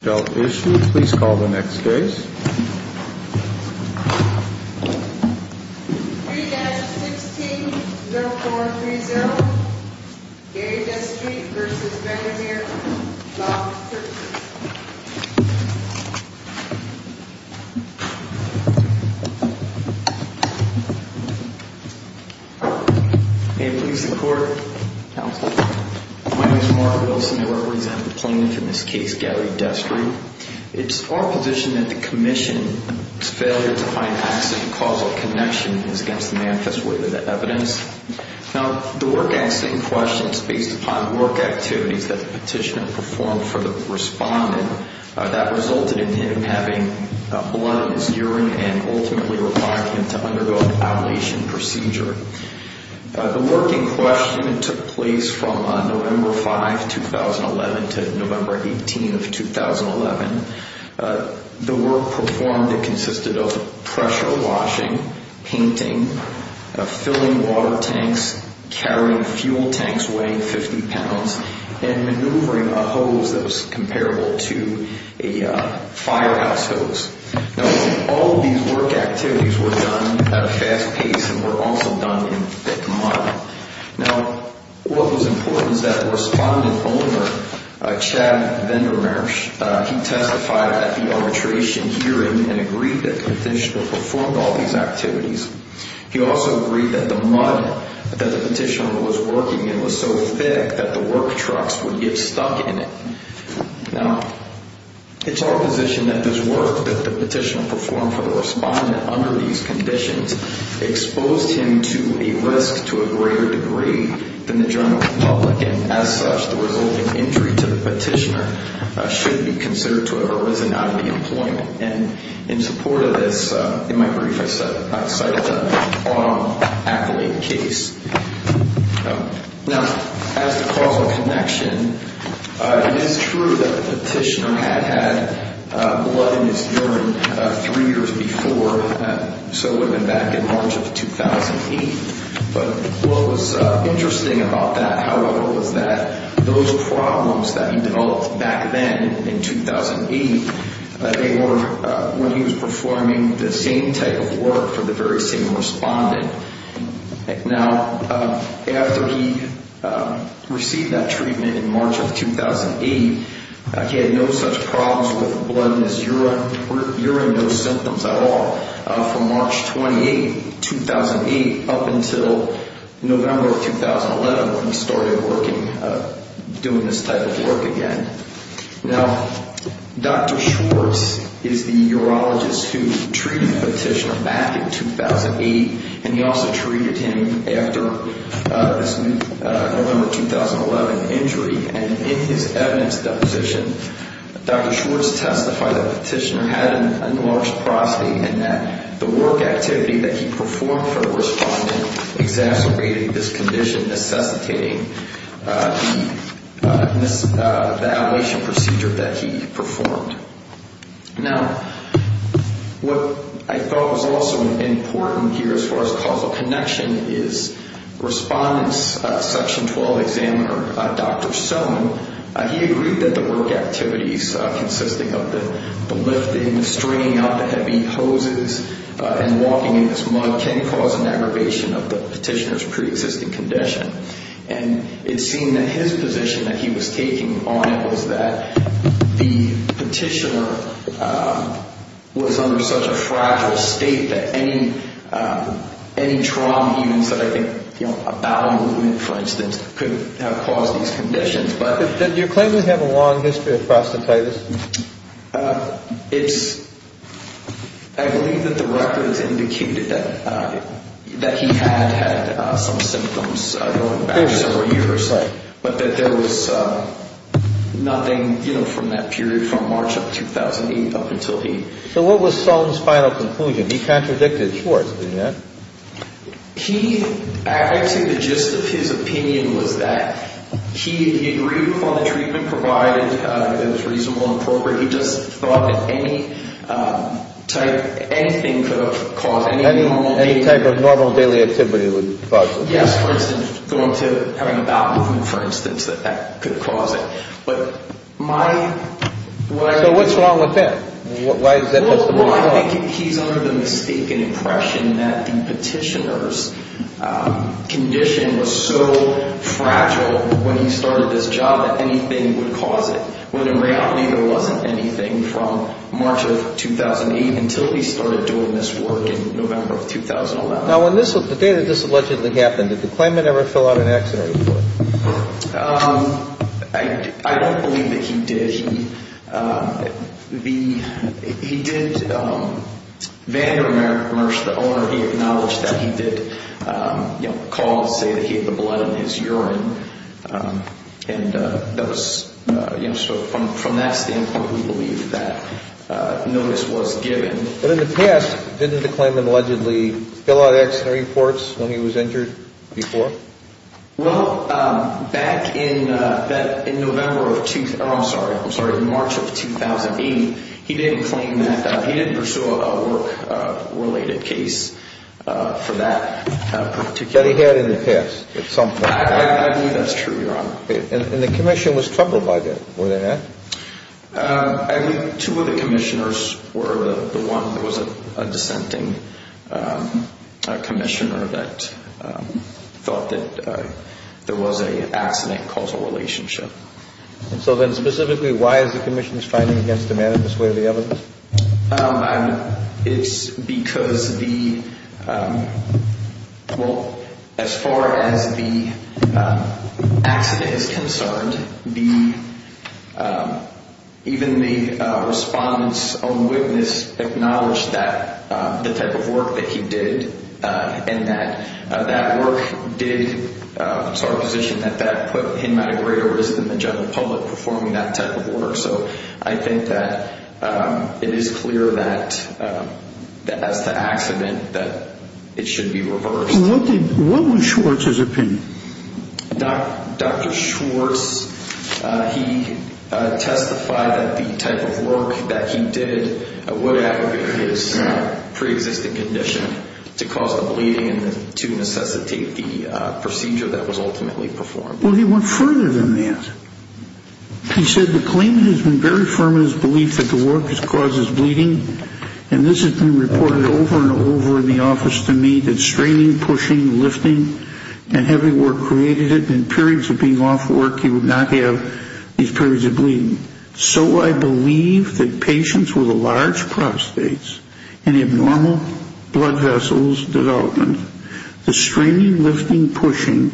If you haven't issues please call the next case. Keyed 16-041-3-0 Garry Destri v. Chiarizier Mark Wilson May it please the Court, Counsel. My name is Mark Wilson. I represent the plaintiff in this case, Garry Destri. It's our position that the commission's failure to find an accident causal connection is against the manifest way of the evidence. Now, the work accident question is based upon work activities that the petitioner performed for the respondent that resulted in him having blood in his urine and ultimately required him to undergo an outlation procedure. The work in question took place from November 5, 2011 to November 18, 2011. The work performed consisted of pressure washing, painting, filling water tanks, carrying fuel tanks weighing 50 pounds, and maneuvering a hose that was comparable to a firehouse hose. Now, all of these work activities were done at a fast pace and were also done in thick mud. Now, what was important is that the respondent owner, Chad Vendermersch, he testified at the arbitration hearing and agreed that the petitioner performed all these activities. He also agreed that the mud that the petitioner was working in was so thick that the work trucks would get stuck in it. Now, it's our position that this work that the petitioner performed for the respondent under these conditions exposed him to a risk to a greater degree than the general public, and as such, the resulting injury to the petitioner should be considered to have arisen out of the employment. And in support of this, in my brief, I cited the arm accolade case. Now, as to causal connection, it is true that the petitioner had had blood in his urine three years before, so it would have been back in March of 2008. But what was interesting about that, however, was that those problems that he developed back then in 2008, they were when he was performing the same type of work for the very same respondent. Now, after he received that treatment in March of 2008, he had no such problems with blood in his urine, urine, no symptoms at all, from March 28, 2008 up until November of 2011 when he started working, doing this type of work again. Now, Dr. Schwartz is the urologist who treated the petitioner back in 2008, and he also treated him after this November 2011 injury. And in his evidence deposition, Dr. Schwartz testified that the petitioner had an enlarged prostate and that the work activity that he performed for the respondent exacerbated this condition, necessitating the outpatient procedure that he performed. Now, what I thought was also important here as far as causal connection is respondent's section 12 examiner, Dr. Sohn, he agreed that the work activities consisting of the lifting, the stringing out the heavy hoses, and walking in his mud can cause an aggravation of the petitioner's preexisting condition. And it seemed that his position that he was taking on it was that the petitioner was under such a fragile state that any trauma evens that I think a bowel movement, for instance, could have caused these conditions. Do you claim to have a long history of prostatitis? It's, I believe that the records indicated that he had had some symptoms going back several years, but that there was nothing from that period from March of 2008 up until he... So what was Sohn's final conclusion? He contradicted Schwartz, didn't he? He, actually the gist of his opinion was that he agreed upon the treatment provided, that it was reasonable and appropriate, he just thought that any type, anything could have caused... Any type of normal daily activity would cause it? Yes, for instance, going to, having a bowel movement, for instance, that that could have caused it. But my... So what's wrong with that? Why does that make sense? Well, I think he's under the mistaken impression that the petitioner's condition was so fragile when he started this job that anything would cause it, when in reality there wasn't anything from March of 2008 until he started doing this work in November of 2011. Now when this, the day that this allegedly happened, did the claimant ever fill out an accident report? I don't believe that he did. He did, Vander Merce, the owner, he acknowledged that he did, you know, call and say that he had the blood in his urine and that was, you know, so from that standpoint we believe that notice was given. But in the past, didn't the claimant allegedly fill out accident reports when he was injured before? Well, back in November of, I'm sorry, March of 2008, he didn't claim that, he didn't pursue a work-related case for that particular... That he had in the past at some point. I believe that's true, Your Honor. And the commission was troubled by that, were they not? I believe two of the commissioners were the one who was a dissenting commissioner that thought that there was an accident causal relationship. So then specifically why is the commission's finding against the man in this way of the evidence? It's because the, well, as far as the accident is concerned, even the respondent's own witness acknowledged that the type of work that he did and that that work did, it's our position that that put him at a greater risk than the general public performing that type of work. So I think that it is clear that as to accident, that it should be reversed. What was Schwartz's opinion? Dr. Schwartz, he testified that the type of work that he did would aggregate his pre-existing condition to cause the bleeding and to necessitate the procedure that was ultimately performed. Well, he went further than that. He said, the claim has been very firm in his belief that the work that causes bleeding, and this has been reported over and over in the office to me, that straining, pushing, lifting, and heavy work created it. In periods of being off work, you would not have these periods of bleeding. So I believe that patients with a large prostate and abnormal blood vessels development, the straining, lifting, pushing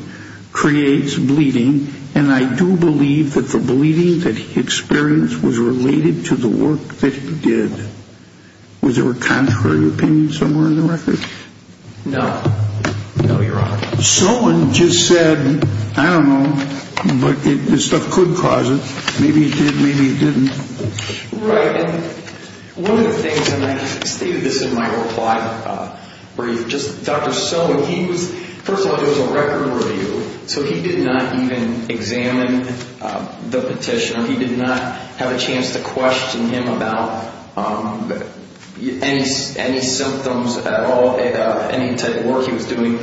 creates bleeding, and I do believe that the bleeding that he experienced was related to the work that he did. Was there a contrary opinion somewhere in the record? No. No, you're wrong. Someone just said, I don't know, but this stuff could cause it. Maybe it did, maybe it didn't. Right, and one of the things, and I stated this in my reply brief, Dr. Sohn, first of all, it was a record review, so he did not even examine the petition, or he did not have a chance to question him about any symptoms at all, any type of work he was doing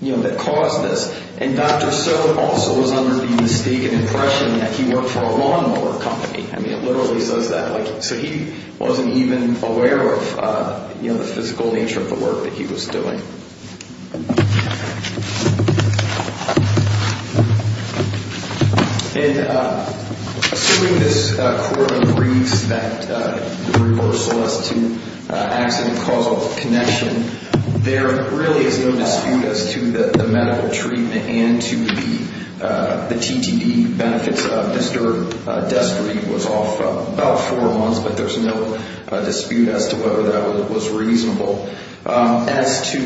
that caused this. And Dr. Sohn also was under the mistaken impression that he worked for a lawnmower company. I mean, it literally says that. So he wasn't even aware of the physical nature of the work that he was doing. And assuming this quarterly briefs that reversal as to accident-causal connection, there really is no dispute as to the medical treatment and to the TTD benefits. Mr. Destry was off about four months, but there's no dispute as to whether that was reasonable. As to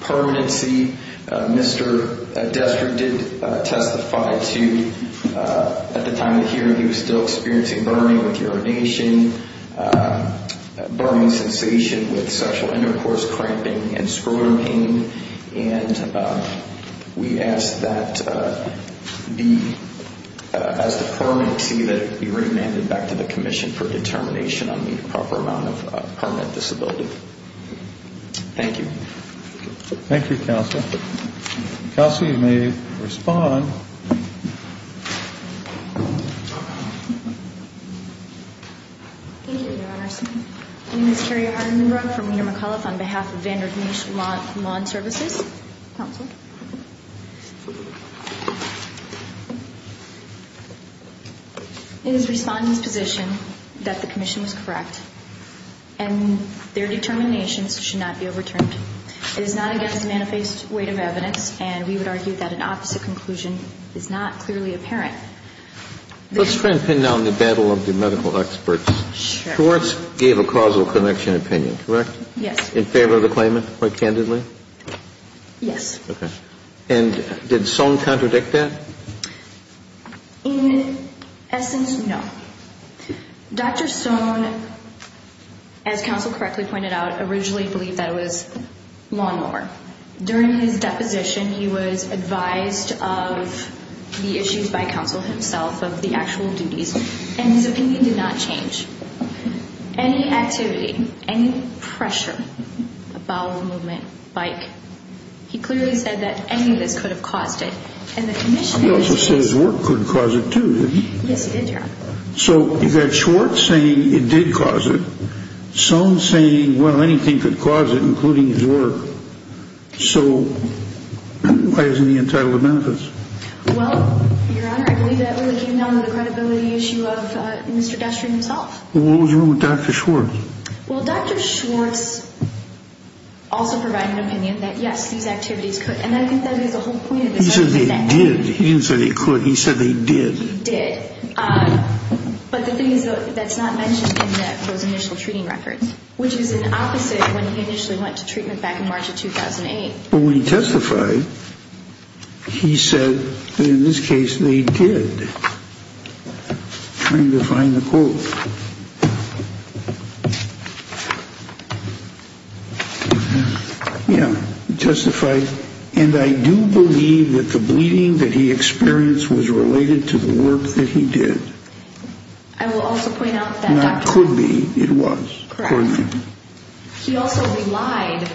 permanency, Mr. Destry did testify to, at the time of the hearing, he was still experiencing burning with urination, burning sensation with sexual intercourse, cramping, and scrotum pain. And we ask that as to permanency that it be remanded back to the Commission for determination on the proper amount of permanent disability. Thank you. Thank you, Counsel. Counsel, you may respond. Thank you, Your Honor. My name is Carrie Harden-Munro from Wiener McAuliffe on behalf of Vander Gneiss Lawn Services. Counsel. It is the Respondent's position that the Commission was correct and their determinations should not be overturned. It is not against the manifest weight of evidence, and we would argue that an opposite conclusion is not clearly apparent. Let's try and pin down the battle of the medical experts. Sure. Schwartz gave a causal connection opinion, correct? Yes. In favor of the claimant, quite candidly? Yes. Okay. And did Stone contradict that? In essence, no. Dr. Stone, as Counsel correctly pointed out, originally believed that it was lawnmower. During his deposition, he was advised of the issues by Counsel himself, of the actual duties, and his opinion did not change. Any activity, any pressure, a bowel movement, bike, he clearly said that any of this could have caused it. He also said his work could have caused it, too, didn't he? Yes, he did, Your Honor. So you've got Schwartz saying it did cause it, Stone saying, well, anything could cause it, including his work. So why isn't he entitled to benefits? Well, Your Honor, I believe that really came down to the credibility issue of Mr. Destrin himself. Well, what was wrong with Dr. Schwartz? Well, Dr. Schwartz also provided an opinion that, yes, these activities could, and I think that is the whole point of this argument. He said they did. He didn't say they could. He said they did. He did. But the thing is, though, that's not mentioned in those initial treating records, which is an opposite when he initially went to treatment back in March of 2008. Well, when he testified, he said that in this case they did, trying to find the quote. Yeah, he testified. And I do believe that the bleeding that he experienced was related to the work that he did. I will also point out that Dr. Not could be. It was. Correct. Accordingly. He also relied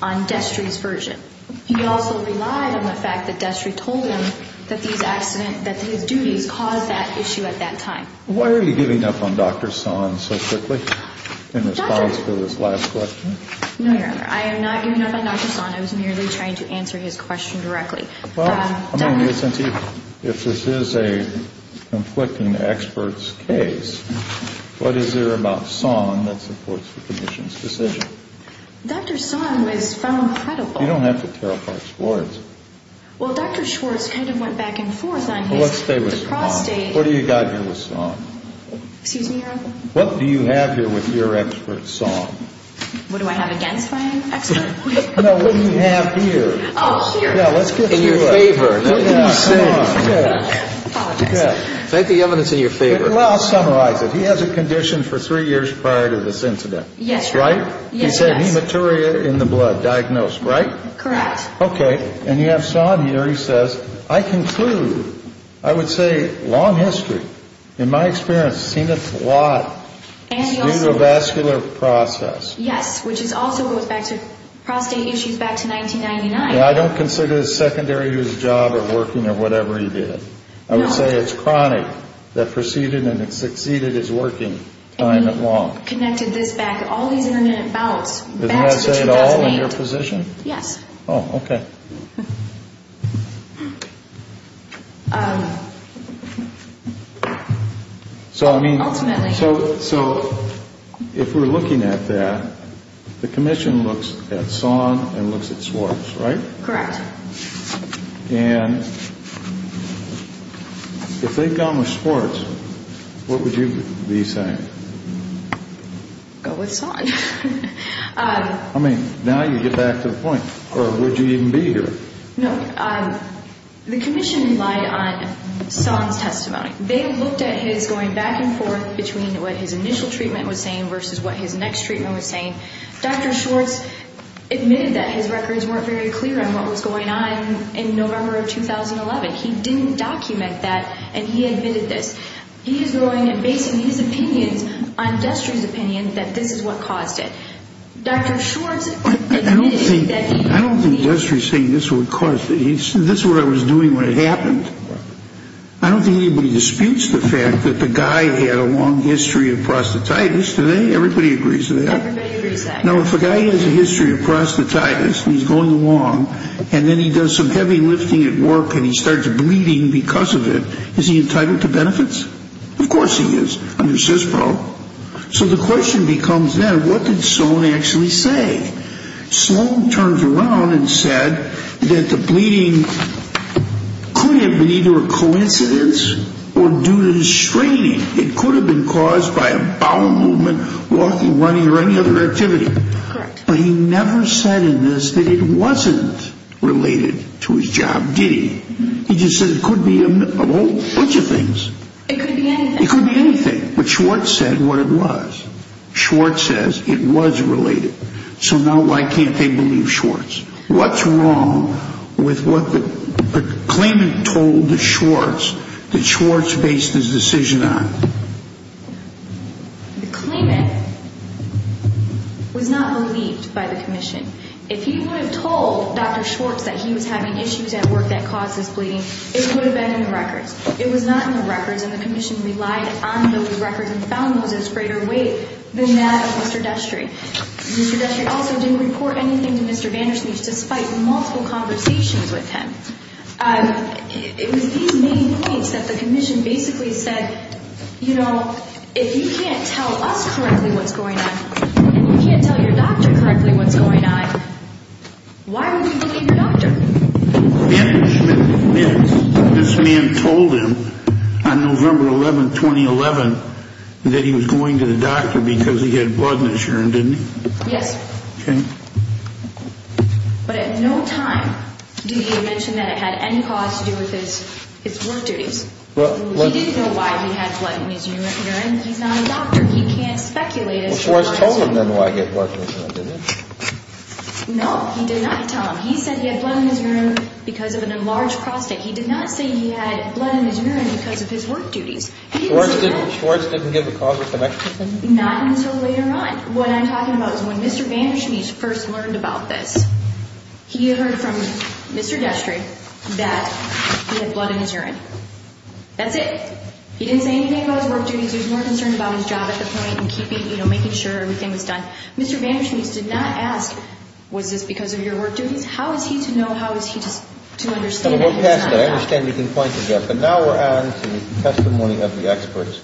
on Destrin's version. He also relied on the fact that Destrin told him that these accidents, that his duties caused that issue at that time. Why are you giving up on Dr. So on so quickly in response to this last question? No, Your Honor. I am not giving up on Dr. Son. I was merely trying to answer his question directly. Well, I mean, isn't he? If this is a conflicting expert's case, what is there about song that supports the commission's decision? Dr. Son was found credible. You don't have to tell us words. Well, Dr. Schwartz kind of went back and forth on his prostate. What do you got? What do you have here with song? Excuse me, Your Honor. What do you have here with your expert song? What do I have against my expert? No, what do you have here? Oh, here. Yeah, let's get to it. In your favor. Yeah, come on. Apologize. Take the evidence in your favor. Well, I'll summarize it. He has a condition for three years prior to this incident. Yes. That's right? Yes. He said hematuria in the blood diagnosed. Right? Correct. Okay. And you have Son here. He says, I conclude. I would say long history. In my experience, seen it a lot. And he also. Due to a vascular process. Yes, which is also goes back to prostate issues back to 1999. Yeah, I don't consider it a secondary to his job or working or whatever he did. No. I would say it's chronic. That proceeded and it succeeded his working time and long. And he connected this back, all these intermittent bouts back to 2008. Does that say it all in your position? Yes. Oh, okay. So, I mean. Ultimately. So, if we're looking at that, the commission looks at Son and looks at Swartz, right? Correct. And if they've gone with Swartz, what would you be saying? Go with Son. I mean, now you get back to the point. I would be going with Swartz. Okay. No. The commission relied on Son's testimony. They looked at his going back and forth between what his initial treatment was saying versus what his next treatment was saying. Dr. Swartz admitted that his records weren't very clear on what was going on in November of 2011. He didn't document that and he admitted this. He is going and basing his opinions on Destry's opinion that this is what caused it. Dr. Swartz admitted that. I don't think Destry's saying this is what caused it. He said, this is what I was doing when it happened. I don't think anybody disputes the fact that the guy had a long history of prostatitis. Do they? Everybody agrees to that. Everybody agrees to that. Now, if a guy has a history of prostatitis and he's going along and then he does some heavy lifting at work and he starts bleeding because of it, is he entitled to benefits? Of course he is, under CISPRO. So, the question becomes then, what did Son actually say? Sloan turned around and said that the bleeding could have been either a coincidence or due to the strain. It could have been caused by a bowel movement, walking, running or any other activity. Correct. But he never said in this that it wasn't related to his job, did he? He just said it could be a whole bunch of things. It could be anything. It could be anything. But Schwartz said what it was. Schwartz says it was related. So now why can't they believe Schwartz? What's wrong with what the claimant told the Schwartz that Schwartz based his decision on? The claimant was not believed by the Commission. If he would have told Dr. Schwartz that he was having issues at work that caused his bleeding, it would have been in the records. It was not in the records and the Commission relied on those records and found those as greater weight than that of Mr. Destry. Mr. Destry also didn't report anything to Mr. Vandersmith despite multiple conversations with him. It was these main points that the Commission basically said, you know, if you can't tell us correctly what's going on, if you can't tell your doctor correctly what's going on, why are we looking at your doctor? Vandersmith admits this man told him on November 11, 2011, that he was going to the doctor because he had blood in his urine, didn't he? Yes. Okay. But at no time did he mention that it had any cause to do with his work duties. He didn't know why he had blood in his urine. He's not a doctor. He can't speculate. Well, Schwartz told him then why he had blood in his urine, didn't he? No, he did not tell him. He said he had blood in his urine because of an enlarged prostate. He did not say he had blood in his urine because of his work duties. Schwartz didn't give a cause of connection? Not until later on. What I'm talking about is when Mr. Vandersmith first learned about this, he heard from Mr. Destry that he had blood in his urine. That's it. He didn't say anything about his work duties. He was more concerned about his job at the point and keeping, you know, making sure everything was done. Mr. Vandersmith did not ask, was this because of your work duties? How is he to know? How is he to understand? We'll pass that. I understand you can point to that. But now we're on to the testimony of the experts.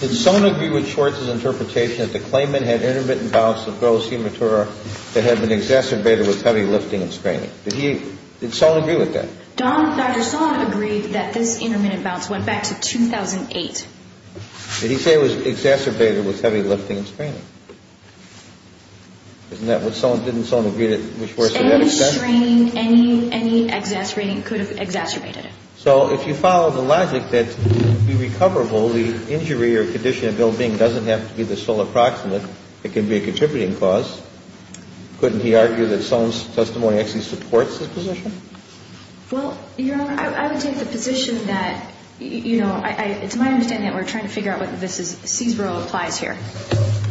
Did Sohn agree with Schwartz's interpretation that the claimant had intermittent bouts of gross hematuria that had been exacerbated with heavy lifting and straining? Did Sohn agree with that? Dr. Sohn agreed that this intermittent bounce went back to 2008. Did he say it was exacerbated with heavy lifting and straining? Didn't Sohn agree with Schwartz to that extent? Any straining, any exacerbating could have exacerbated it. So if you follow the logic that to be recoverable, the injury or condition of ill-being doesn't have to be the sole approximate. It can be a contributing cause. Couldn't he argue that Sohn's testimony actually supports his position? Well, Your Honor, I would take the position that, you know, it's my understanding that we're trying to figure out whether this is, Seesborough applies here.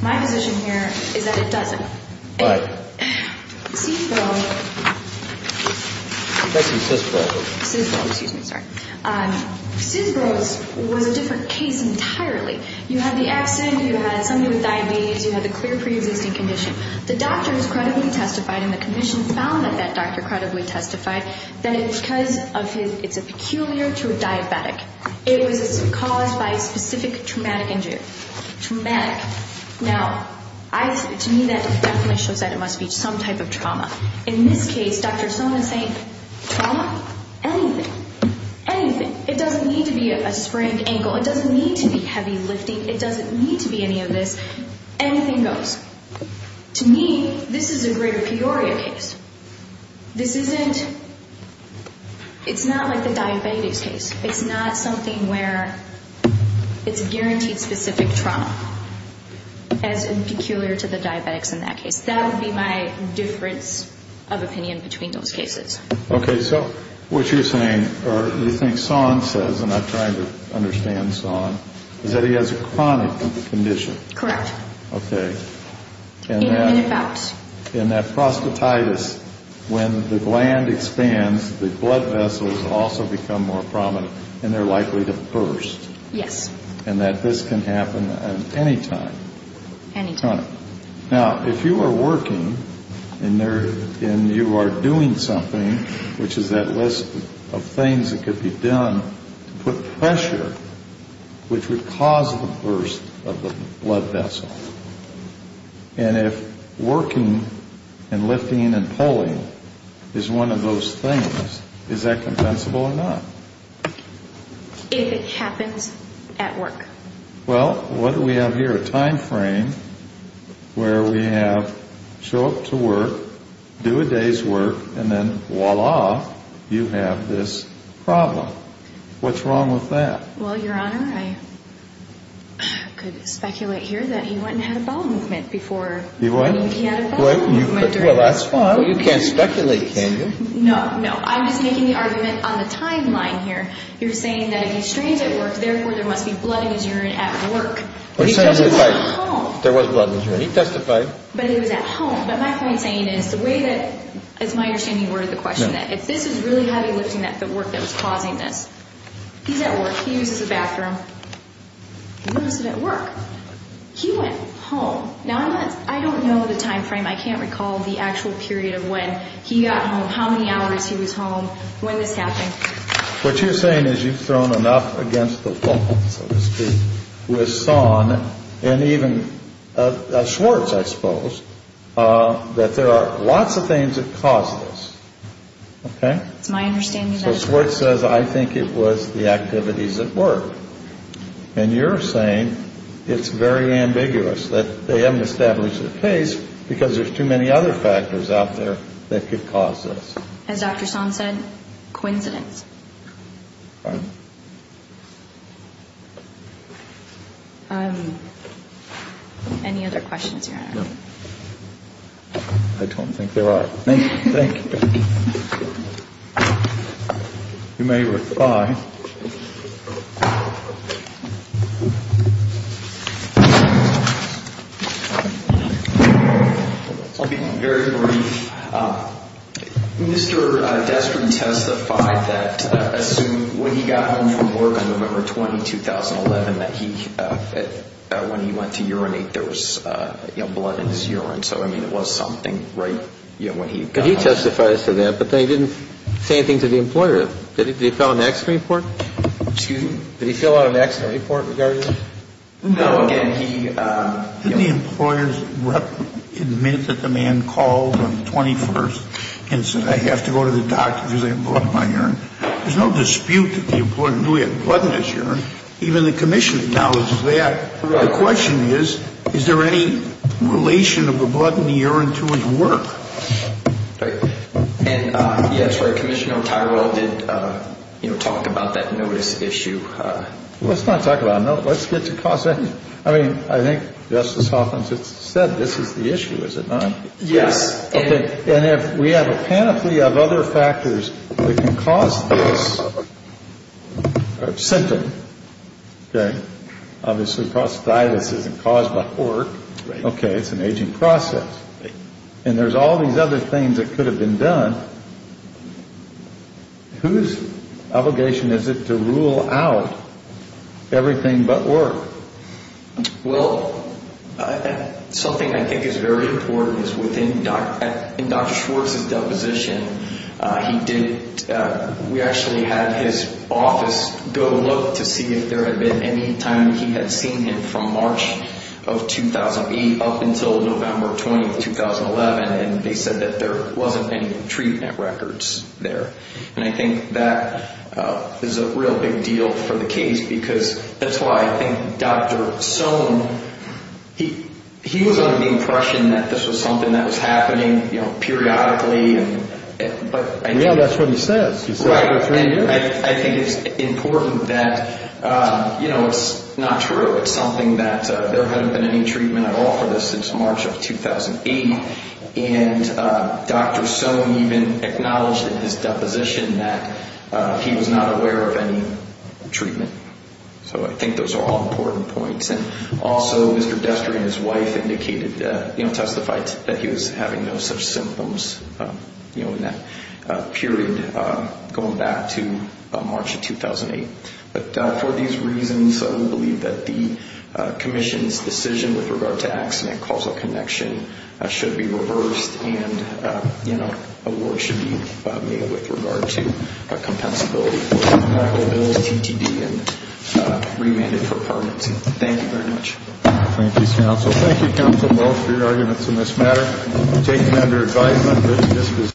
My position here is that it doesn't. But? Seesborough. I'm guessing Seesborough. Seesborough, excuse me, sorry. Seesborough was a different case entirely. You had the absent. You had somebody with diabetes. You had the clear preexisting condition. The doctors credibly testified and the commission found that that doctor credibly testified that it's because of his, it's a peculiar to a diabetic. It was caused by a specific traumatic injury. Traumatic. Now, to me, that definitely shows that it must be some type of trauma. In this case, Dr. Sohn is saying trauma? Anything. Anything. It doesn't need to be a sprained ankle. It doesn't need to be heavy lifting. It doesn't need to be any of this. Anything goes. To me, this is a greater Peoria case. This isn't, it's not like the diabetes case. It's not something where it's a guaranteed specific trauma as peculiar to the diabetics in that case. That would be my difference of opinion between those cases. Okay. So what you're saying, or you think Sohn says, and I'm trying to understand Sohn, is that he has a chronic condition. Correct. Okay. In and about. Yes. In that prostatitis, when the gland expands, the blood vessels also become more prominent and they're likely to burst. Yes. And that this can happen at any time. Any time. Now, if you are working and you are doing something, which is that list of things that could be done to put pressure, which would cause the burst of the blood vessel. And if working and lifting and pulling is one of those things, is that compensable or not? If it happens at work. Well, what do we have here? A time frame where we have show up to work, do a day's work, and then voila, you have this problem. What's wrong with that? Well, Your Honor, I could speculate here that he went and had a bowel movement before he had a bowel movement. Well, that's fine. You can't speculate, can you? No, no. I'm just making the argument on the timeline here. You're saying that if he strains at work, therefore there must be blood in his urine at work. He testified at home. There was blood in his urine. He testified. But it was at home. But my point saying is, the way that, it's my understanding you've ordered the question, that if this is really heavy lifting, that the work that was causing this, he's at work. He uses the bathroom. He wasn't at work. He went home. Now, I don't know the time frame. I can't recall the actual period of when he got home, how many hours he was home, when this happened. What you're saying is you've thrown enough against the wall, so to speak, with Sohn and even Schwartz, I suppose, that there are lots of things that caused this. Okay? It's my understanding that it was. So Schwartz says, I think it was the activities at work. And you're saying it's very ambiguous, that they haven't established a case because there's too many other factors out there that could cause this. All right. Thank you. Any other questions, Your Honor? No. I don't think there are. Thank you. You may reply. I'll be very brief. Mr. Destry testified that when he got home from work on November 20, 2011, that when he went to urinate, there was blood in his urine. So, I mean, it was something right when he got home. He testified to that, but then he didn't say anything to the employer. Did the appellant ask for reports? Excuse me? Did he fill out an accident report regarding that? No. Again, he. Didn't the employer admit that the man called on the 21st and said, I have to go to the doctor because I have blood in my urine? There's no dispute that the employer knew he had blood in his urine. Even the commission acknowledges that. Correct. The question is, is there any relation of the blood in the urine to his work? And, yes, Commissioner Tyrell did, you know, talk about that notice issue. Let's not talk about a notice. Let's get to cause. I mean, I think Justice Hoffman said this is the issue, is it not? Yes. Okay. And if we have a panoply of other factors that can cause this symptom. Okay. Obviously, prosthesis isn't caused by work. Right. Okay. It's an aging process. Right. And there's all these other things that could have been done. Whose obligation is it to rule out everything but work? Well, something I think is very important is within Dr. Schwartz's deposition, he did. We actually had his office go look to see if there had been any time he had seen him from March of 2008 up until November 20, 2011. And they said that there wasn't any treatment records there. And I think that is a real big deal for the case because that's why I think Dr. Sohn, he was under the impression that this was something that was happening, you know, periodically. Yeah, that's what he says. Right. I think it's important that, you know, it's not true. It's something that there hadn't been any treatment at all for this since March of 2008. And Dr. Sohn even acknowledged in his deposition that he was not aware of any treatment. So I think those are all important points. And also, Mr. Destry and his wife indicated, you know, testified that he was having no such symptoms, you know, in that period going back to March of 2008. But for these reasons, I do believe that the commission's decision with regard to accident causal connection should be reversed and, you know, awards should be made with regard to compensability for medical bills, ATTB, and remanded for permanency. Thank you very much. Thank you, counsel. Thank you, counsel, both for your arguments in this matter. Taken under advisement.